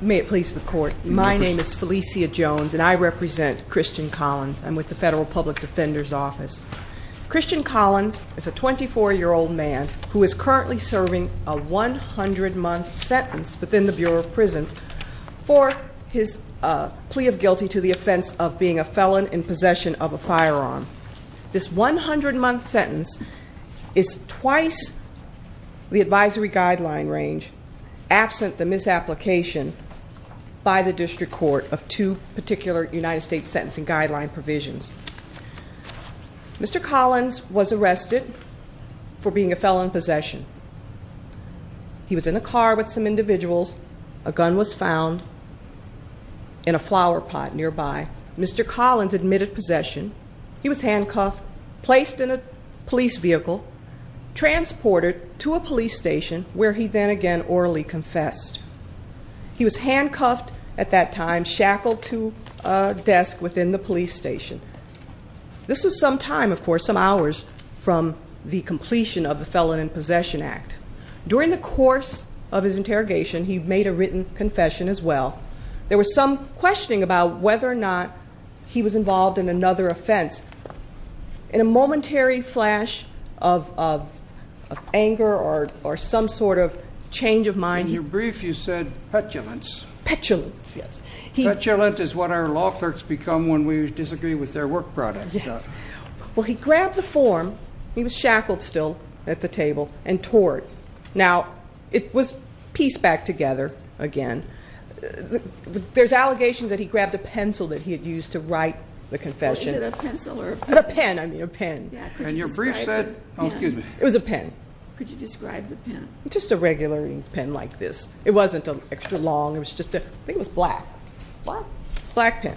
May it please the Court, my name is Felicia Jones and I represent Christian Collins. I'm with the Federal Public Defender's Office. Christian Collins is a 24-year-old man who is currently serving a 100-month sentence within the Bureau of Prisons for his plea of guilty to the offense of being a felon in possession of a firearm. This 100-month sentence is twice the advisory guideline range absent the misapplication by the District Court of two particular United States sentencing guideline provisions. Mr. Collins was arrested for being a felon in possession. He was in a car with some individuals, a gun was found in a flower pot nearby. Mr. Collins admitted possession. He was handcuffed, placed in a police vehicle, transported to a police station where he then again orally confessed. He was handcuffed at that time, shackled to a desk within the police station. This was some time, of course, some hours from the completion of the Felon in Possession Act. During the course of his trial, there was some questioning about whether or not he was involved in another offense. In a momentary flash of anger or some sort of change of mind. In your brief, you said petulance. Petulance, yes. Petulant is what our law clerks become when we disagree with their work product. Yes. Well, he grabbed the form. He was shackled still at the table and tore it. Now, it was pieced back together again. There's allegations that he grabbed a pencil that he had used to write the confession. Was it a pencil or a pen? A pen, I mean a pen. And your brief said, oh excuse me. It was a pen. Could you describe the pen? Just a regular pen like this. It wasn't an extra long. It was just a, I think it was black. Black. Black pen.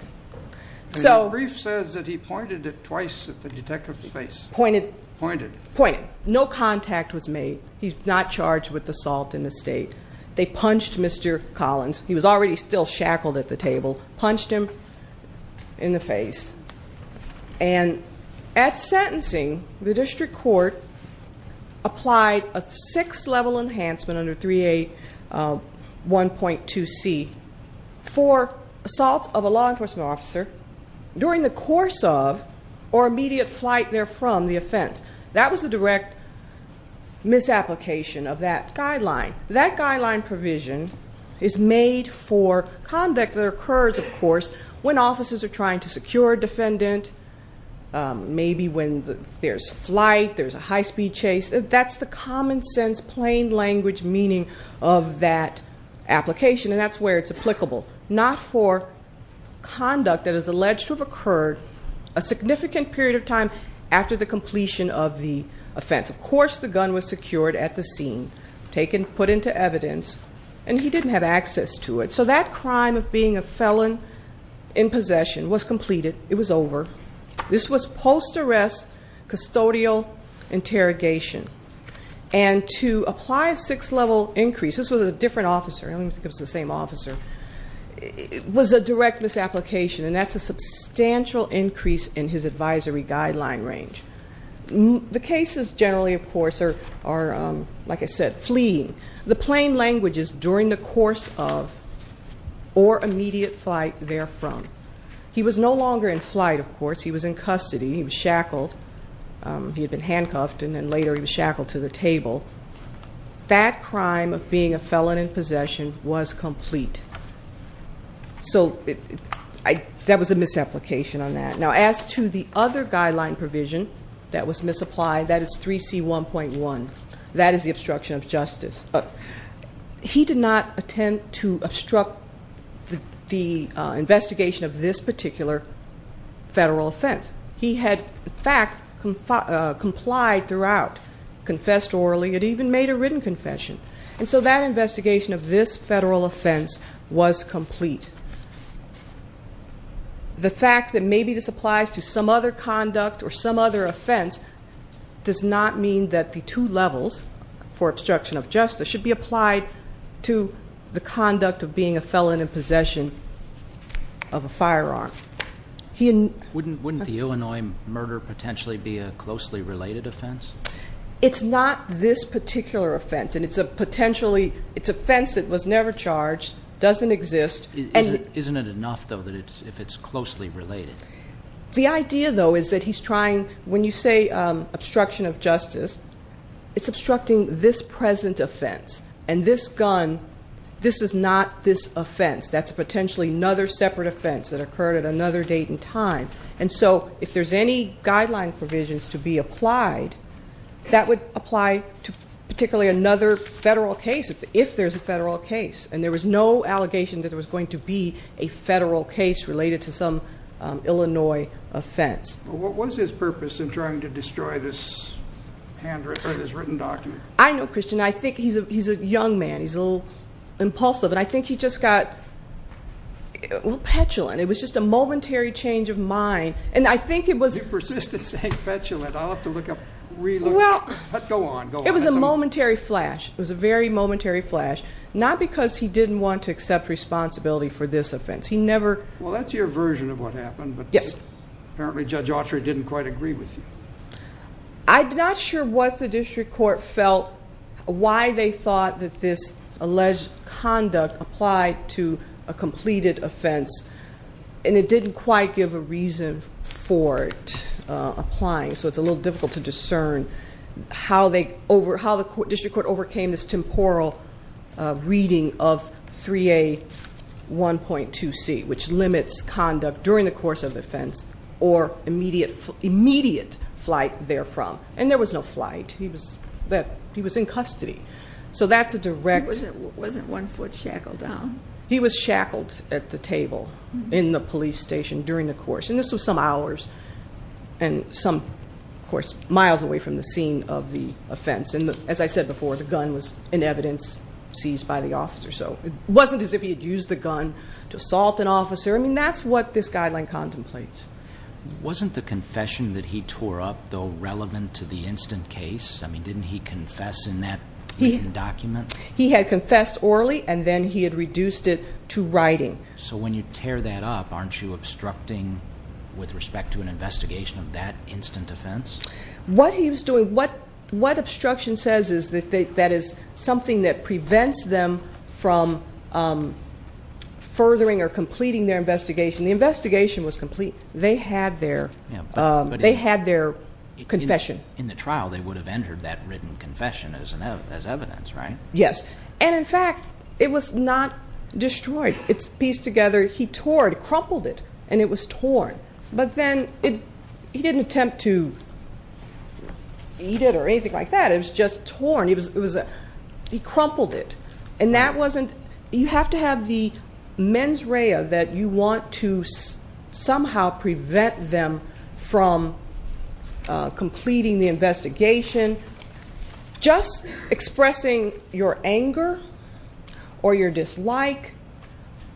So. Your brief says that he pointed it twice at the detective's face. Pointed. Pointed. Pointed. No contact was made. He's not charged with assault in the state. They punched Mr. Collins. He was already still shackled at the table. Punched him in the face. And at sentencing, the district court applied a six-level enhancement under 3A1.2C for assault of a law enforcement officer during the course of or immediate flight there from the offense. That was a direct misapplication of that guideline. That guideline provision is made for conduct that occurs, of course, when officers are trying to secure a defendant. Maybe when there's flight, there's a high-speed chase. That's the common sense, plain language meaning of that application. And that's where it's applicable. Not for conduct that is alleged to have occurred a significant period of time after the completion of the offense. Of course the gun was secured at the scene. Taken, put into evidence. And he didn't have access to it. So that crime of being a felon in possession was completed. It was over. This was post-arrest custodial interrogation. And to apply a six-level increase, this was a different officer. I don't even think it was the same officer. It was a direct misapplication. And that's a substantial increase in his advisory guideline range. The cases generally, of course, are, like I said, fleeing. The plain language is during the course of or immediate flight there from. He was no longer in flight, of course. He was in custody. He was he had been handcuffed. And then later he was shackled to the table. That crime of being a felon in possession was complete. So that was a misapplication on that. Now as to the other guideline provision that was misapplied, that is 3C1.1. That is the obstruction of justice. He did not attempt to obstruct the investigation of this particular federal offense. He had, in fact, complied throughout, confessed orally, and even made a written confession. And so that investigation of this federal offense was complete. The fact that maybe this applies to some other conduct or some other offense does not mean that the two levels for obstruction of justice should be applied to the conduct of being a felon in possession of a firearm. Wouldn't the Illinois murder potentially be a closely related offense? It's not this particular offense. And it's a potentially, it's offense that was never charged, doesn't exist. Isn't it enough, though, that it's if it's closely related? The idea, though, is that he's trying, when you say obstruction of justice, it's obstructing this present offense. And this gun, this is not this offense. That's potentially another separate offense that occurred at another date and time. And so if there's any guideline provisions to be applied, that would apply to particularly another federal case, if there's a federal case. And there was no allegation that there was going to be a federal case related to some Illinois offense. What was his purpose in trying to destroy this handwritten, or this written document? I know, Christian. I think he's a young man. He's a little impulsive. And I think he just got a little petulant. It was just a momentary change of mind. And I think it was- You persist in saying petulant. I'll have to look up, re-look it up. Go on, go on. It was a momentary flash. It was a very momentary flash. Not because he didn't want to accept responsibility for this offense. He never- Well, that's your version of what happened, but- Yes. Apparently, Judge Autry didn't quite agree with you. I'm not sure what the district court felt, why they thought that this alleged conduct applied to a completed offense, and it didn't quite give a reason for it applying. So it's a little difficult to discern how the district court overcame this temporal reading of 3A1.2C, which limits conduct during the course of offense or immediate flight therefrom. And there was no flight. He was in custody. So that's a direct- It wasn't one foot shackled down. He was shackled at the table in the police station during the course. And this was some hours and some, of course, miles away from the scene of the offense. And as I said before, the gun was in evidence seized by the officer. So it wasn't as if he had used the gun to assault an officer. I mean, that's what this guideline contemplates. Wasn't the confession that he tore up, though, relevant to the instant case? I mean, didn't he confess in that written document? He had confessed orally, and then he had reduced it to writing. So when you tear that up, aren't you obstructing with respect to an investigation of that instant offense? What he was doing, what obstruction says is that that is something that prevents them from furthering or completing their investigation. The investigation was complete. They had their confession. In the trial, they would have entered that written confession as evidence, right? Yes, and in fact, it was not destroyed. It's pieced together, he tore it, crumpled it, and it was torn. But then, he didn't attempt to eat it or anything like that. It was just torn, he crumpled it. And that wasn't, you have to have the mens rea that you want to somehow prevent them from completing the investigation. Just expressing your anger or your dislike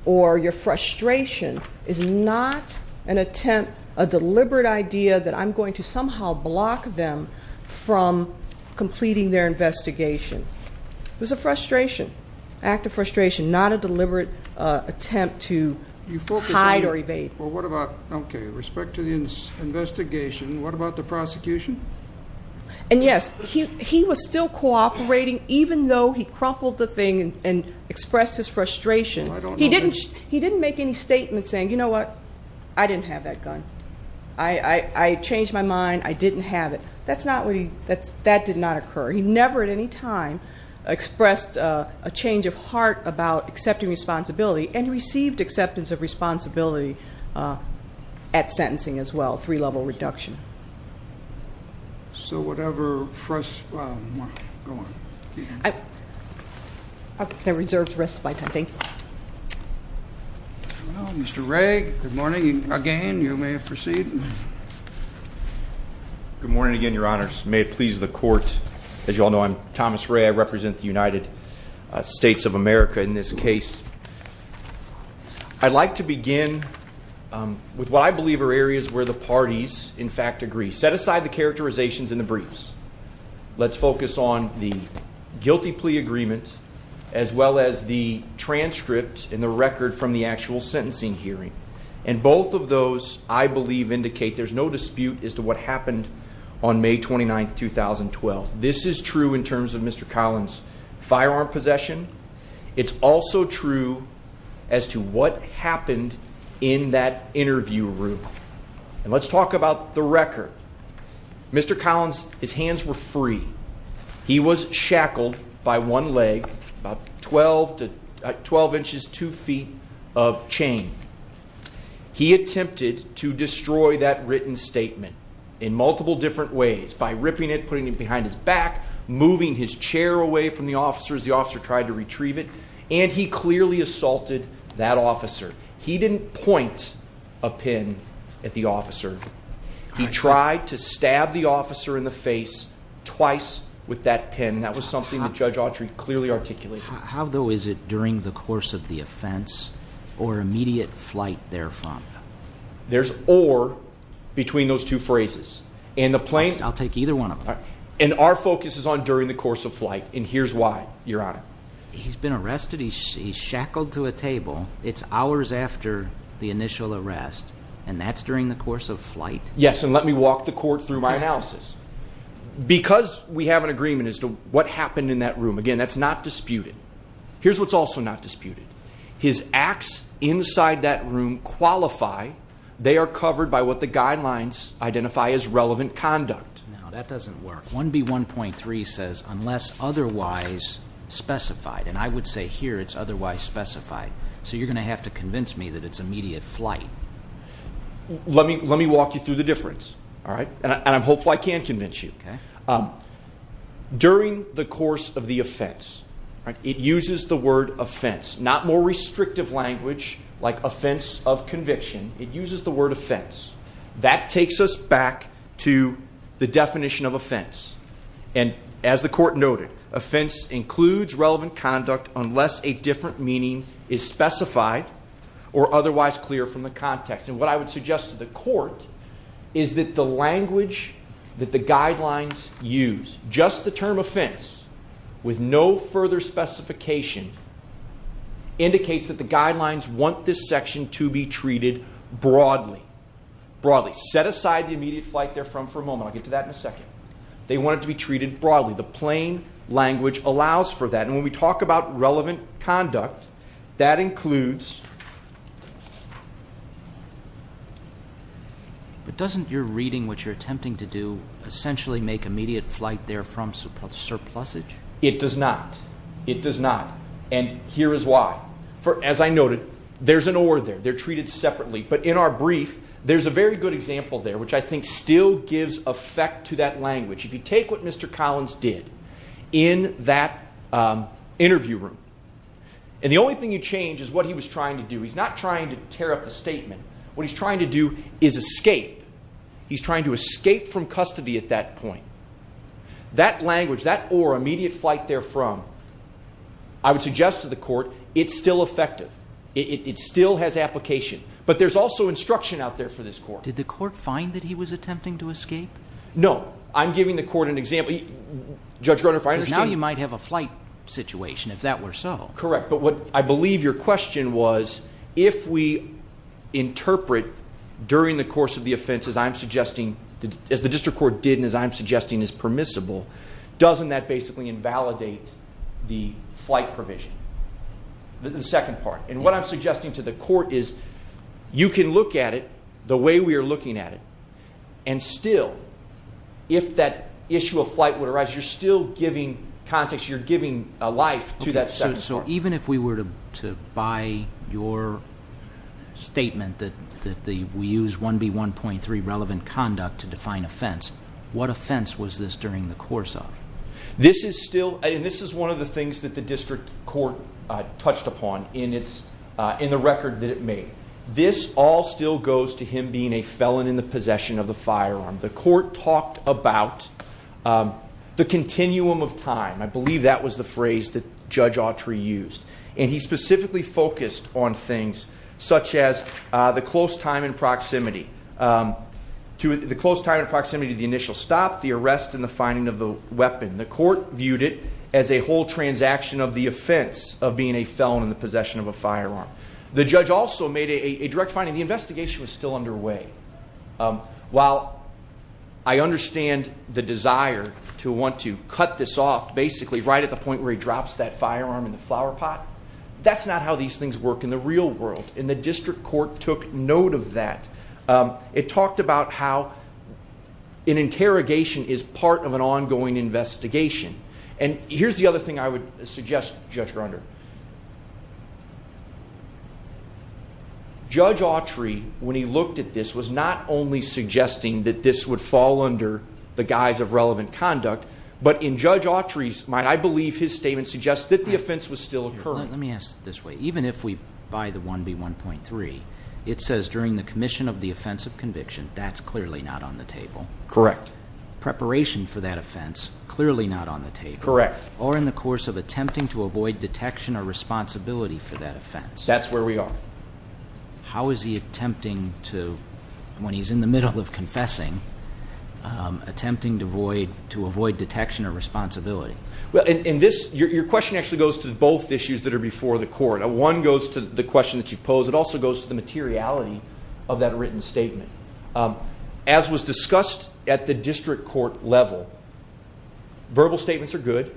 or your frustration is not an attempt, a deliberate idea, that I'm going to somehow block them from completing their investigation. It was a frustration, act of frustration, not a deliberate attempt to hide or evade. Well, what about, okay, respect to the investigation, what about the prosecution? And yes, he was still cooperating even though he crumpled the thing and expressed his frustration. He didn't make any statement saying, you know what, I didn't have that gun. I changed my mind, I didn't have it. That did not occur. He never at any time expressed a change of heart about accepting responsibility and received acceptance of responsibility at sentencing as well, three level reduction. So whatever first, go on. I reserve the rest of my time, thank you. Mr. Ray, good morning again, you may proceed. Good morning again, your honors. May it please the court. As you all know, I'm Thomas Ray, I represent the United States of America in this case. I'd like to begin with what I believe are areas where the parties, in fact, agree. We set aside the characterizations in the briefs. Let's focus on the guilty plea agreement, as well as the transcript and the record from the actual sentencing hearing, and both of those, I believe, indicate there's no dispute as to what happened on May 29th, 2012. This is true in terms of Mr. Collins' firearm possession. It's also true as to what happened in that interview room. And let's talk about the record. Mr. Collins, his hands were free. He was shackled by one leg, about 12 inches, two feet of chain. He attempted to destroy that written statement in multiple different ways, by ripping it, putting it behind his back, moving his chair away from the officer as the officer tried to retrieve it. And he clearly assaulted that officer. He didn't point a pin at the officer. He tried to stab the officer in the face twice with that pin. That was something that Judge Autry clearly articulated. How though is it during the course of the offense or immediate flight therefrom? There's or between those two phrases. And the plane- I'll take either one of them. And our focus is on during the course of flight, and here's why, Your Honor. He's been arrested, he's shackled to a table. It's hours after the initial arrest, and that's during the course of flight. Yes, and let me walk the court through my analysis. Because we have an agreement as to what happened in that room. Again, that's not disputed. Here's what's also not disputed. His acts inside that room qualify. They are covered by what the guidelines identify as relevant conduct. No, that doesn't work. 1B1.3 says, unless otherwise specified. And I would say here it's otherwise specified. So you're going to have to convince me that it's immediate flight. Let me walk you through the difference, all right? And I'm hopeful I can convince you. During the course of the offense, it uses the word offense. Not more restrictive language like offense of conviction. It uses the word offense. That takes us back to the definition of offense. And as the court noted, offense includes relevant conduct unless a different meaning is specified or otherwise clear from the context. And what I would suggest to the court is that the language that the guidelines use. Just the term offense with no further specification indicates that the guidelines want this section to be treated broadly. Broadly, set aside the immediate flight they're from for a moment. I'll get to that in a second. They want it to be treated broadly. The plain language allows for that. And when we talk about relevant conduct, that includes. But doesn't your reading what you're attempting to do essentially make immediate flight there from surplusage? It does not. It does not. And here is why. For, as I noted, there's an or there. They're treated separately. But in our brief, there's a very good example there, which I think still gives effect to that language. If you take what Mr. Collins did in that interview room. And the only thing you change is what he was trying to do. He's not trying to tear up the statement. What he's trying to do is escape. He's trying to escape from custody at that point. That language, that or, immediate flight there from, I would suggest to the court, it's still effective. It still has application. But there's also instruction out there for this court. Did the court find that he was attempting to escape? No, I'm giving the court an example. Judge Garner, if I understand. Now you might have a flight situation, if that were so. Correct, but what I believe your question was, if we interpret during the course of the offense, as I'm suggesting, as the district court did, and as I'm suggesting is permissible, doesn't that basically invalidate the flight provision? The second part. And what I'm suggesting to the court is, you can look at it the way we are looking at it. And still, if that issue of flight would arise, you're still giving context, you're giving a life to that second part. Even if we were to buy your statement that we use 1B1.3 relevant conduct to define offense, what offense was this during the course of? This is still, and this is one of the things that the district court touched upon in the record that it made. This all still goes to him being a felon in the possession of the firearm. The court talked about the continuum of time. I believe that was the phrase that Judge Autry used. And he specifically focused on things such as the close time and proximity. The close time and proximity to the initial stop, the arrest, and the finding of the weapon. The court viewed it as a whole transaction of the offense of being a felon in the possession of a firearm. The judge also made a direct finding. The investigation was still underway. While I understand the desire to want to cut this off, basically right at the point where he drops that firearm in the flower pot, that's not how these things work in the real world. And the district court took note of that. It talked about how an interrogation is part of an ongoing investigation. And here's the other thing I would suggest, Judge Grunder. Judge Autry, when he looked at this, was not only suggesting that this would fall under the guise of relevant conduct, but in Judge Autry's mind, I believe his statement suggests that the offense was still occurring. Let me ask this way. Even if we buy the 1B1.3, it says during the commission of the offense of conviction, that's clearly not on the table. Correct. Preparation for that offense, clearly not on the table. Correct. Or in the course of attempting to avoid detection or responsibility for that offense. That's where we are. How is he attempting to, when he's in the middle of confessing, attempting to avoid detection or responsibility? Well, in this, your question actually goes to both issues that are before the court. One goes to the question that you pose. It also goes to the materiality of that written statement. As was discussed at the district court level, verbal statements are good.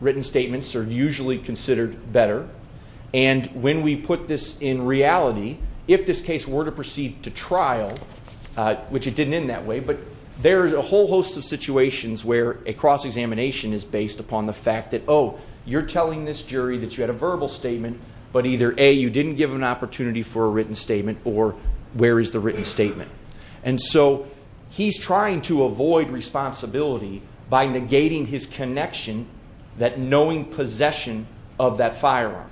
Written statements are usually considered better. And when we put this in reality, if this case were to proceed to trial, which it didn't end that way, but there's a whole host of situations where a cross-examination is based upon the fact that, oh, you're telling this jury that you had a verbal statement, but either A, you didn't give an opportunity for a written statement, or where is the written statement? And so he's trying to avoid responsibility by negating his connection, that knowing possession of that firearm.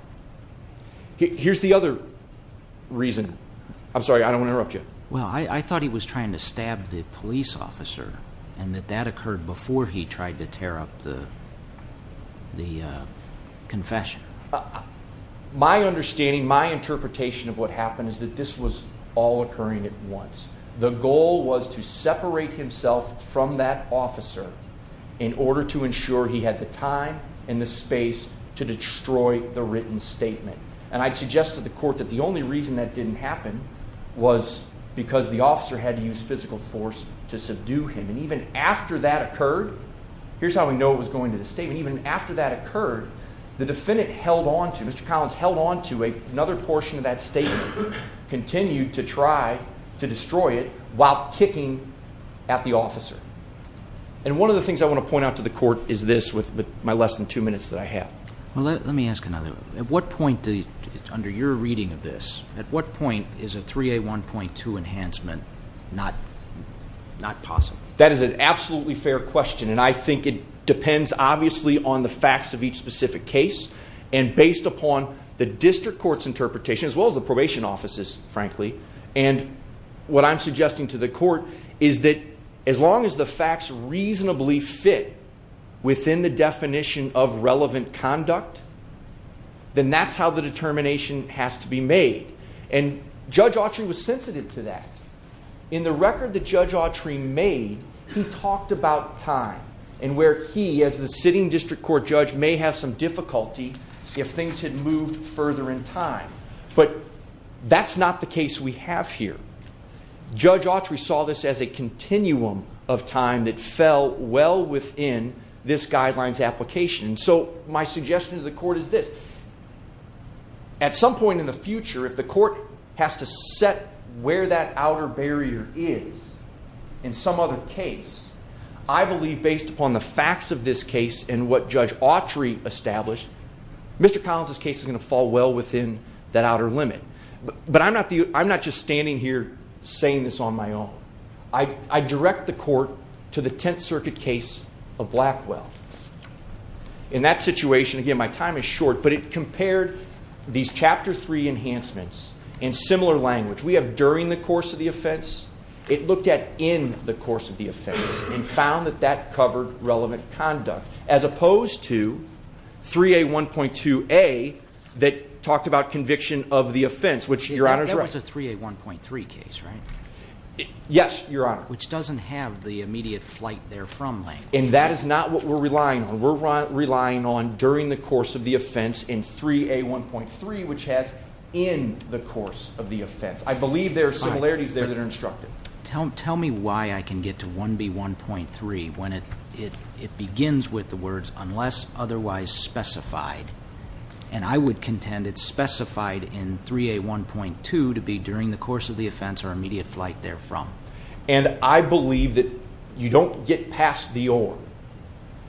Here's the other reason. I'm sorry, I don't want to interrupt you. Well, I thought he was trying to stab the police officer and that that occurred before he tried to tear up the confession. My understanding, my interpretation of what happened is that this was all occurring at once. The goal was to separate himself from that officer in order to ensure he had the time and the space to destroy the written statement. And I'd suggest to the court that the only reason that didn't happen was because the officer had to use physical force to subdue him. And even after that occurred, here's how we know it was going to the statement, even after that occurred, the defendant held on to, Mr. Collins held on to another portion of that statement, continued to try to destroy it while kicking at the officer. And one of the things I want to point out to the court is this with my less than two minutes that I have. Well, let me ask another one. At what point, under your reading of this, at what point is a 3A1.2 enhancement not possible? That is an absolutely fair question. And I think it depends obviously on the facts of each specific case and based upon the district court's interpretation as well as the probation offices, frankly. And what I'm suggesting to the court is that as long as the facts reasonably fit within the definition of relevant conduct, then that's how the determination has to be made. And Judge Autry was sensitive to that. In the record that Judge Autry made, he talked about time and where he as the sitting district court judge may have some difficulty if things had moved further in time. But that's not the case we have here. Judge Autry saw this as a continuum of time that fell well within this guidelines application. And so my suggestion to the court is this. At some point in the future, if the court has to set where that outer barrier is in some other case, I believe based upon the facts of this case and what Judge Autry established, Mr. Collins' case is gonna fall well within that outer limit. But I'm not just standing here saying this on my own. I direct the court to the 10th Circuit case of Blackwell. In that situation, again, my time is short, but it compared these chapter three enhancements in similar language. We have during the course of the offense, it looked at in the course of the offense and found that that covered relevant conduct as opposed to 3A1.2a that talked about conviction of the offense, which Your Honor's right. That was a 3A1.3 case, right? Yes, Your Honor. Which doesn't have the immediate flight there from Lang. And that is not what we're relying on. We're relying on during the course of the offense in 3A1.3, which has in the course of the offense. I believe there are similarities there that are instructed. Tell me why I can get to 1B1.3 when it begins with the words unless otherwise specified. And I would contend it's specified in 3A1.2 to be during the course of the offense or immediate flight there from. And I believe that you don't get past the or.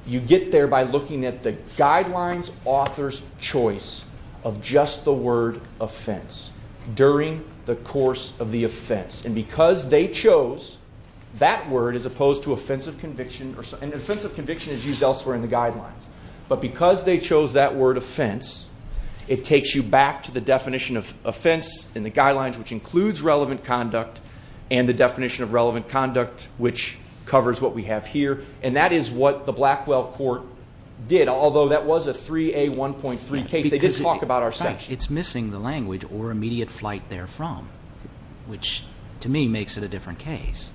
You get there by looking at the guidelines author's choice of just the word offense during the course of the offense and because they chose that word as opposed to offensive conviction. And offensive conviction is used elsewhere in the guidelines but because they chose that word offense, it takes you back to the definition of offense in the guidelines, which includes relevant conduct and the definition of relevant conduct, which covers what we have here. And that is what the Blackwell court did. Although that was a 3A1.3 case, they did talk about our section. It's missing the language or immediate flight there from, which to me makes it a different case.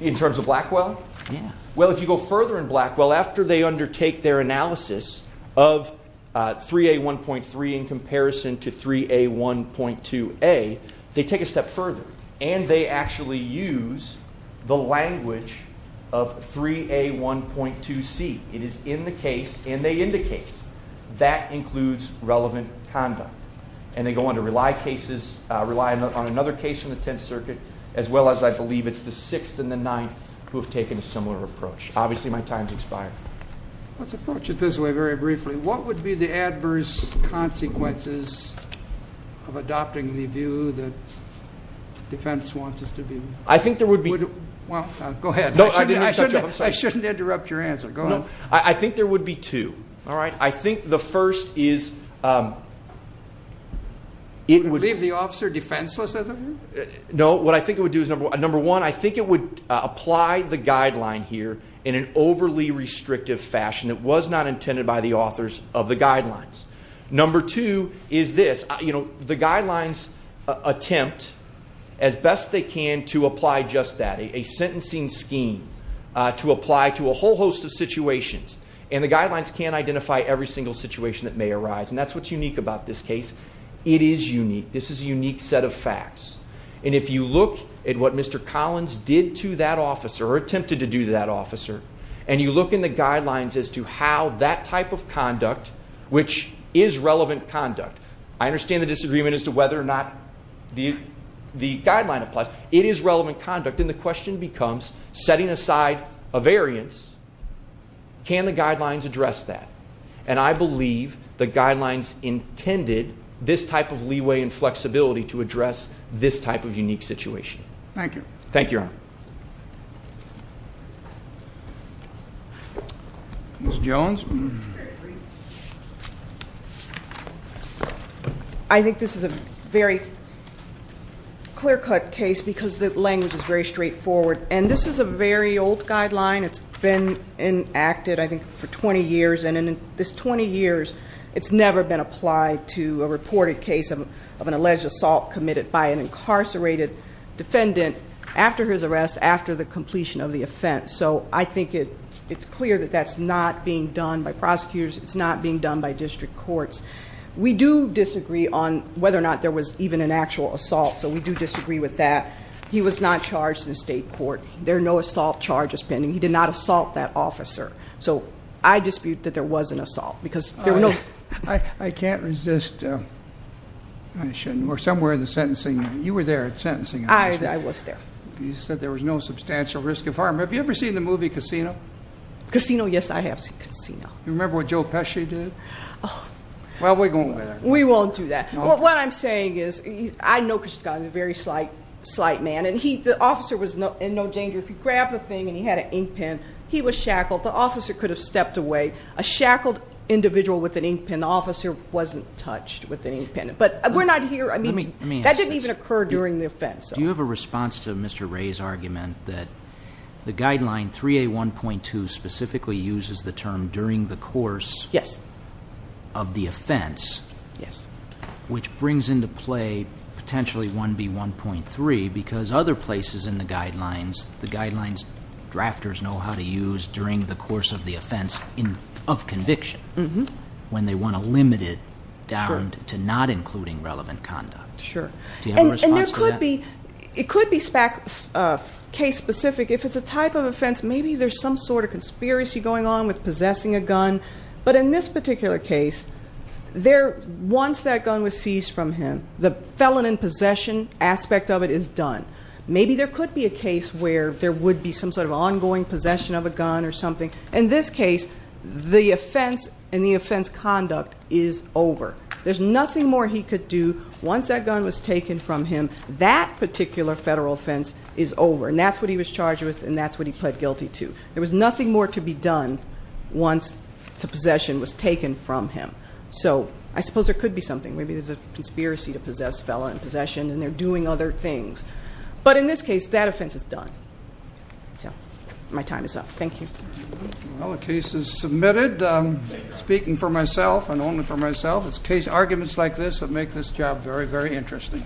In terms of Blackwell? Yeah. Well, if you go further in Blackwell, after they undertake their analysis of 3A1.3 in comparison to 3A1.2A, they take a step further and they actually use the language of 3A1.2C. It is in the case and they indicate that includes relevant conduct. And they go on to rely cases, rely on another case in the 10th circuit, as well as I believe it's the sixth and the ninth who have taken a similar approach. Obviously my time's expired. Let's approach it this way very briefly. What would be the adverse consequences of adopting the view that defense wants us to be? I think there would be. Well, go ahead. I shouldn't interrupt your answer. Go ahead. I think there would be two. All right. I think the first is it would- Leave the officer defenseless as of now? No, what I think it would do is number one, I think it would apply the guideline here in an overly restrictive fashion. It was not intended by the authors of the guidelines. Number two is this, you know, the guidelines attempt as best they can to apply just that, a sentencing scheme to apply to a whole host of situations. And the guidelines can't identify every single situation that may arise. And that's what's unique about this case. It is unique. This is a unique set of facts. And if you look at what Mr. Collins did to that officer or attempted to do to that officer, and you look in the guidelines as to how that type of conduct, which is relevant conduct, I understand the disagreement as to whether or not the guideline applies. It is relevant conduct and the question becomes setting aside a variance, can the guidelines address that? And I believe the guidelines intended this type of leeway and flexibility to address this type of unique situation. Thank you. Thank you, Your Honor. Ms. Jones. I think this is a very clear-cut case because the language is very straightforward. And this is a very old guideline. It's been enacted, I think, for 20 years. And in this 20 years, it's never been applied to a reported case of an alleged assault committed by an incarcerated defendant after his arrest, after the completion of the offense. So I think it's clear that that's not being done by prosecutors, it's not being done by district courts. We do disagree on whether or not there was even an actual assault. So we do disagree with that. He was not charged in the state court. There are no assault charges pending. He did not assault that officer. So I dispute that there was an assault because there were no- I can't resist, I shouldn't, we're somewhere in the sentencing. You were there at sentencing. I was there. You said there was no substantial risk of harm. Have you ever seen the movie Casino? Casino, yes, I have seen Casino. You remember what Joe Pesci did? Well, we won't do that. What I'm saying is, I know Chris Scott is a very slight man, and the officer was in no danger. If he grabbed the thing and he had an ink pen, he was shackled, the officer could have stepped away. A shackled individual with an ink pen, the officer wasn't touched with an ink pen. But we're not here, that didn't even occur during the offense. Do you have a response to Mr. Ray's argument that the guideline 3A1.2 specifically uses the term during the course of the offense, which brings into play potentially 1B1.3 because other places in the guidelines, the guidelines drafters know how to use during the course of the offense of conviction, when they want to limit it down to not including relevant conduct. Sure. Do you have a response to that? It could be case specific. If it's a type of offense, maybe there's some sort of conspiracy going on with possessing a gun. But in this particular case, once that gun was seized from him, the felon in possession aspect of it is done. Maybe there could be a case where there would be some sort of ongoing possession of a gun or something. In this case, the offense and the offense conduct is over. There's nothing more he could do once that gun was taken from him. That particular federal offense is over. And that's what he was charged with and that's what he pled guilty to. There was nothing more to be done once the possession was taken from him. So I suppose there could be something. Maybe there's a conspiracy to possess felon in possession and they're doing other things. But in this case, that offense is done. So my time is up. Thank you. Well, the case is submitted. Speaking for myself and only for myself, it's case arguments like this that make this job very, very interesting.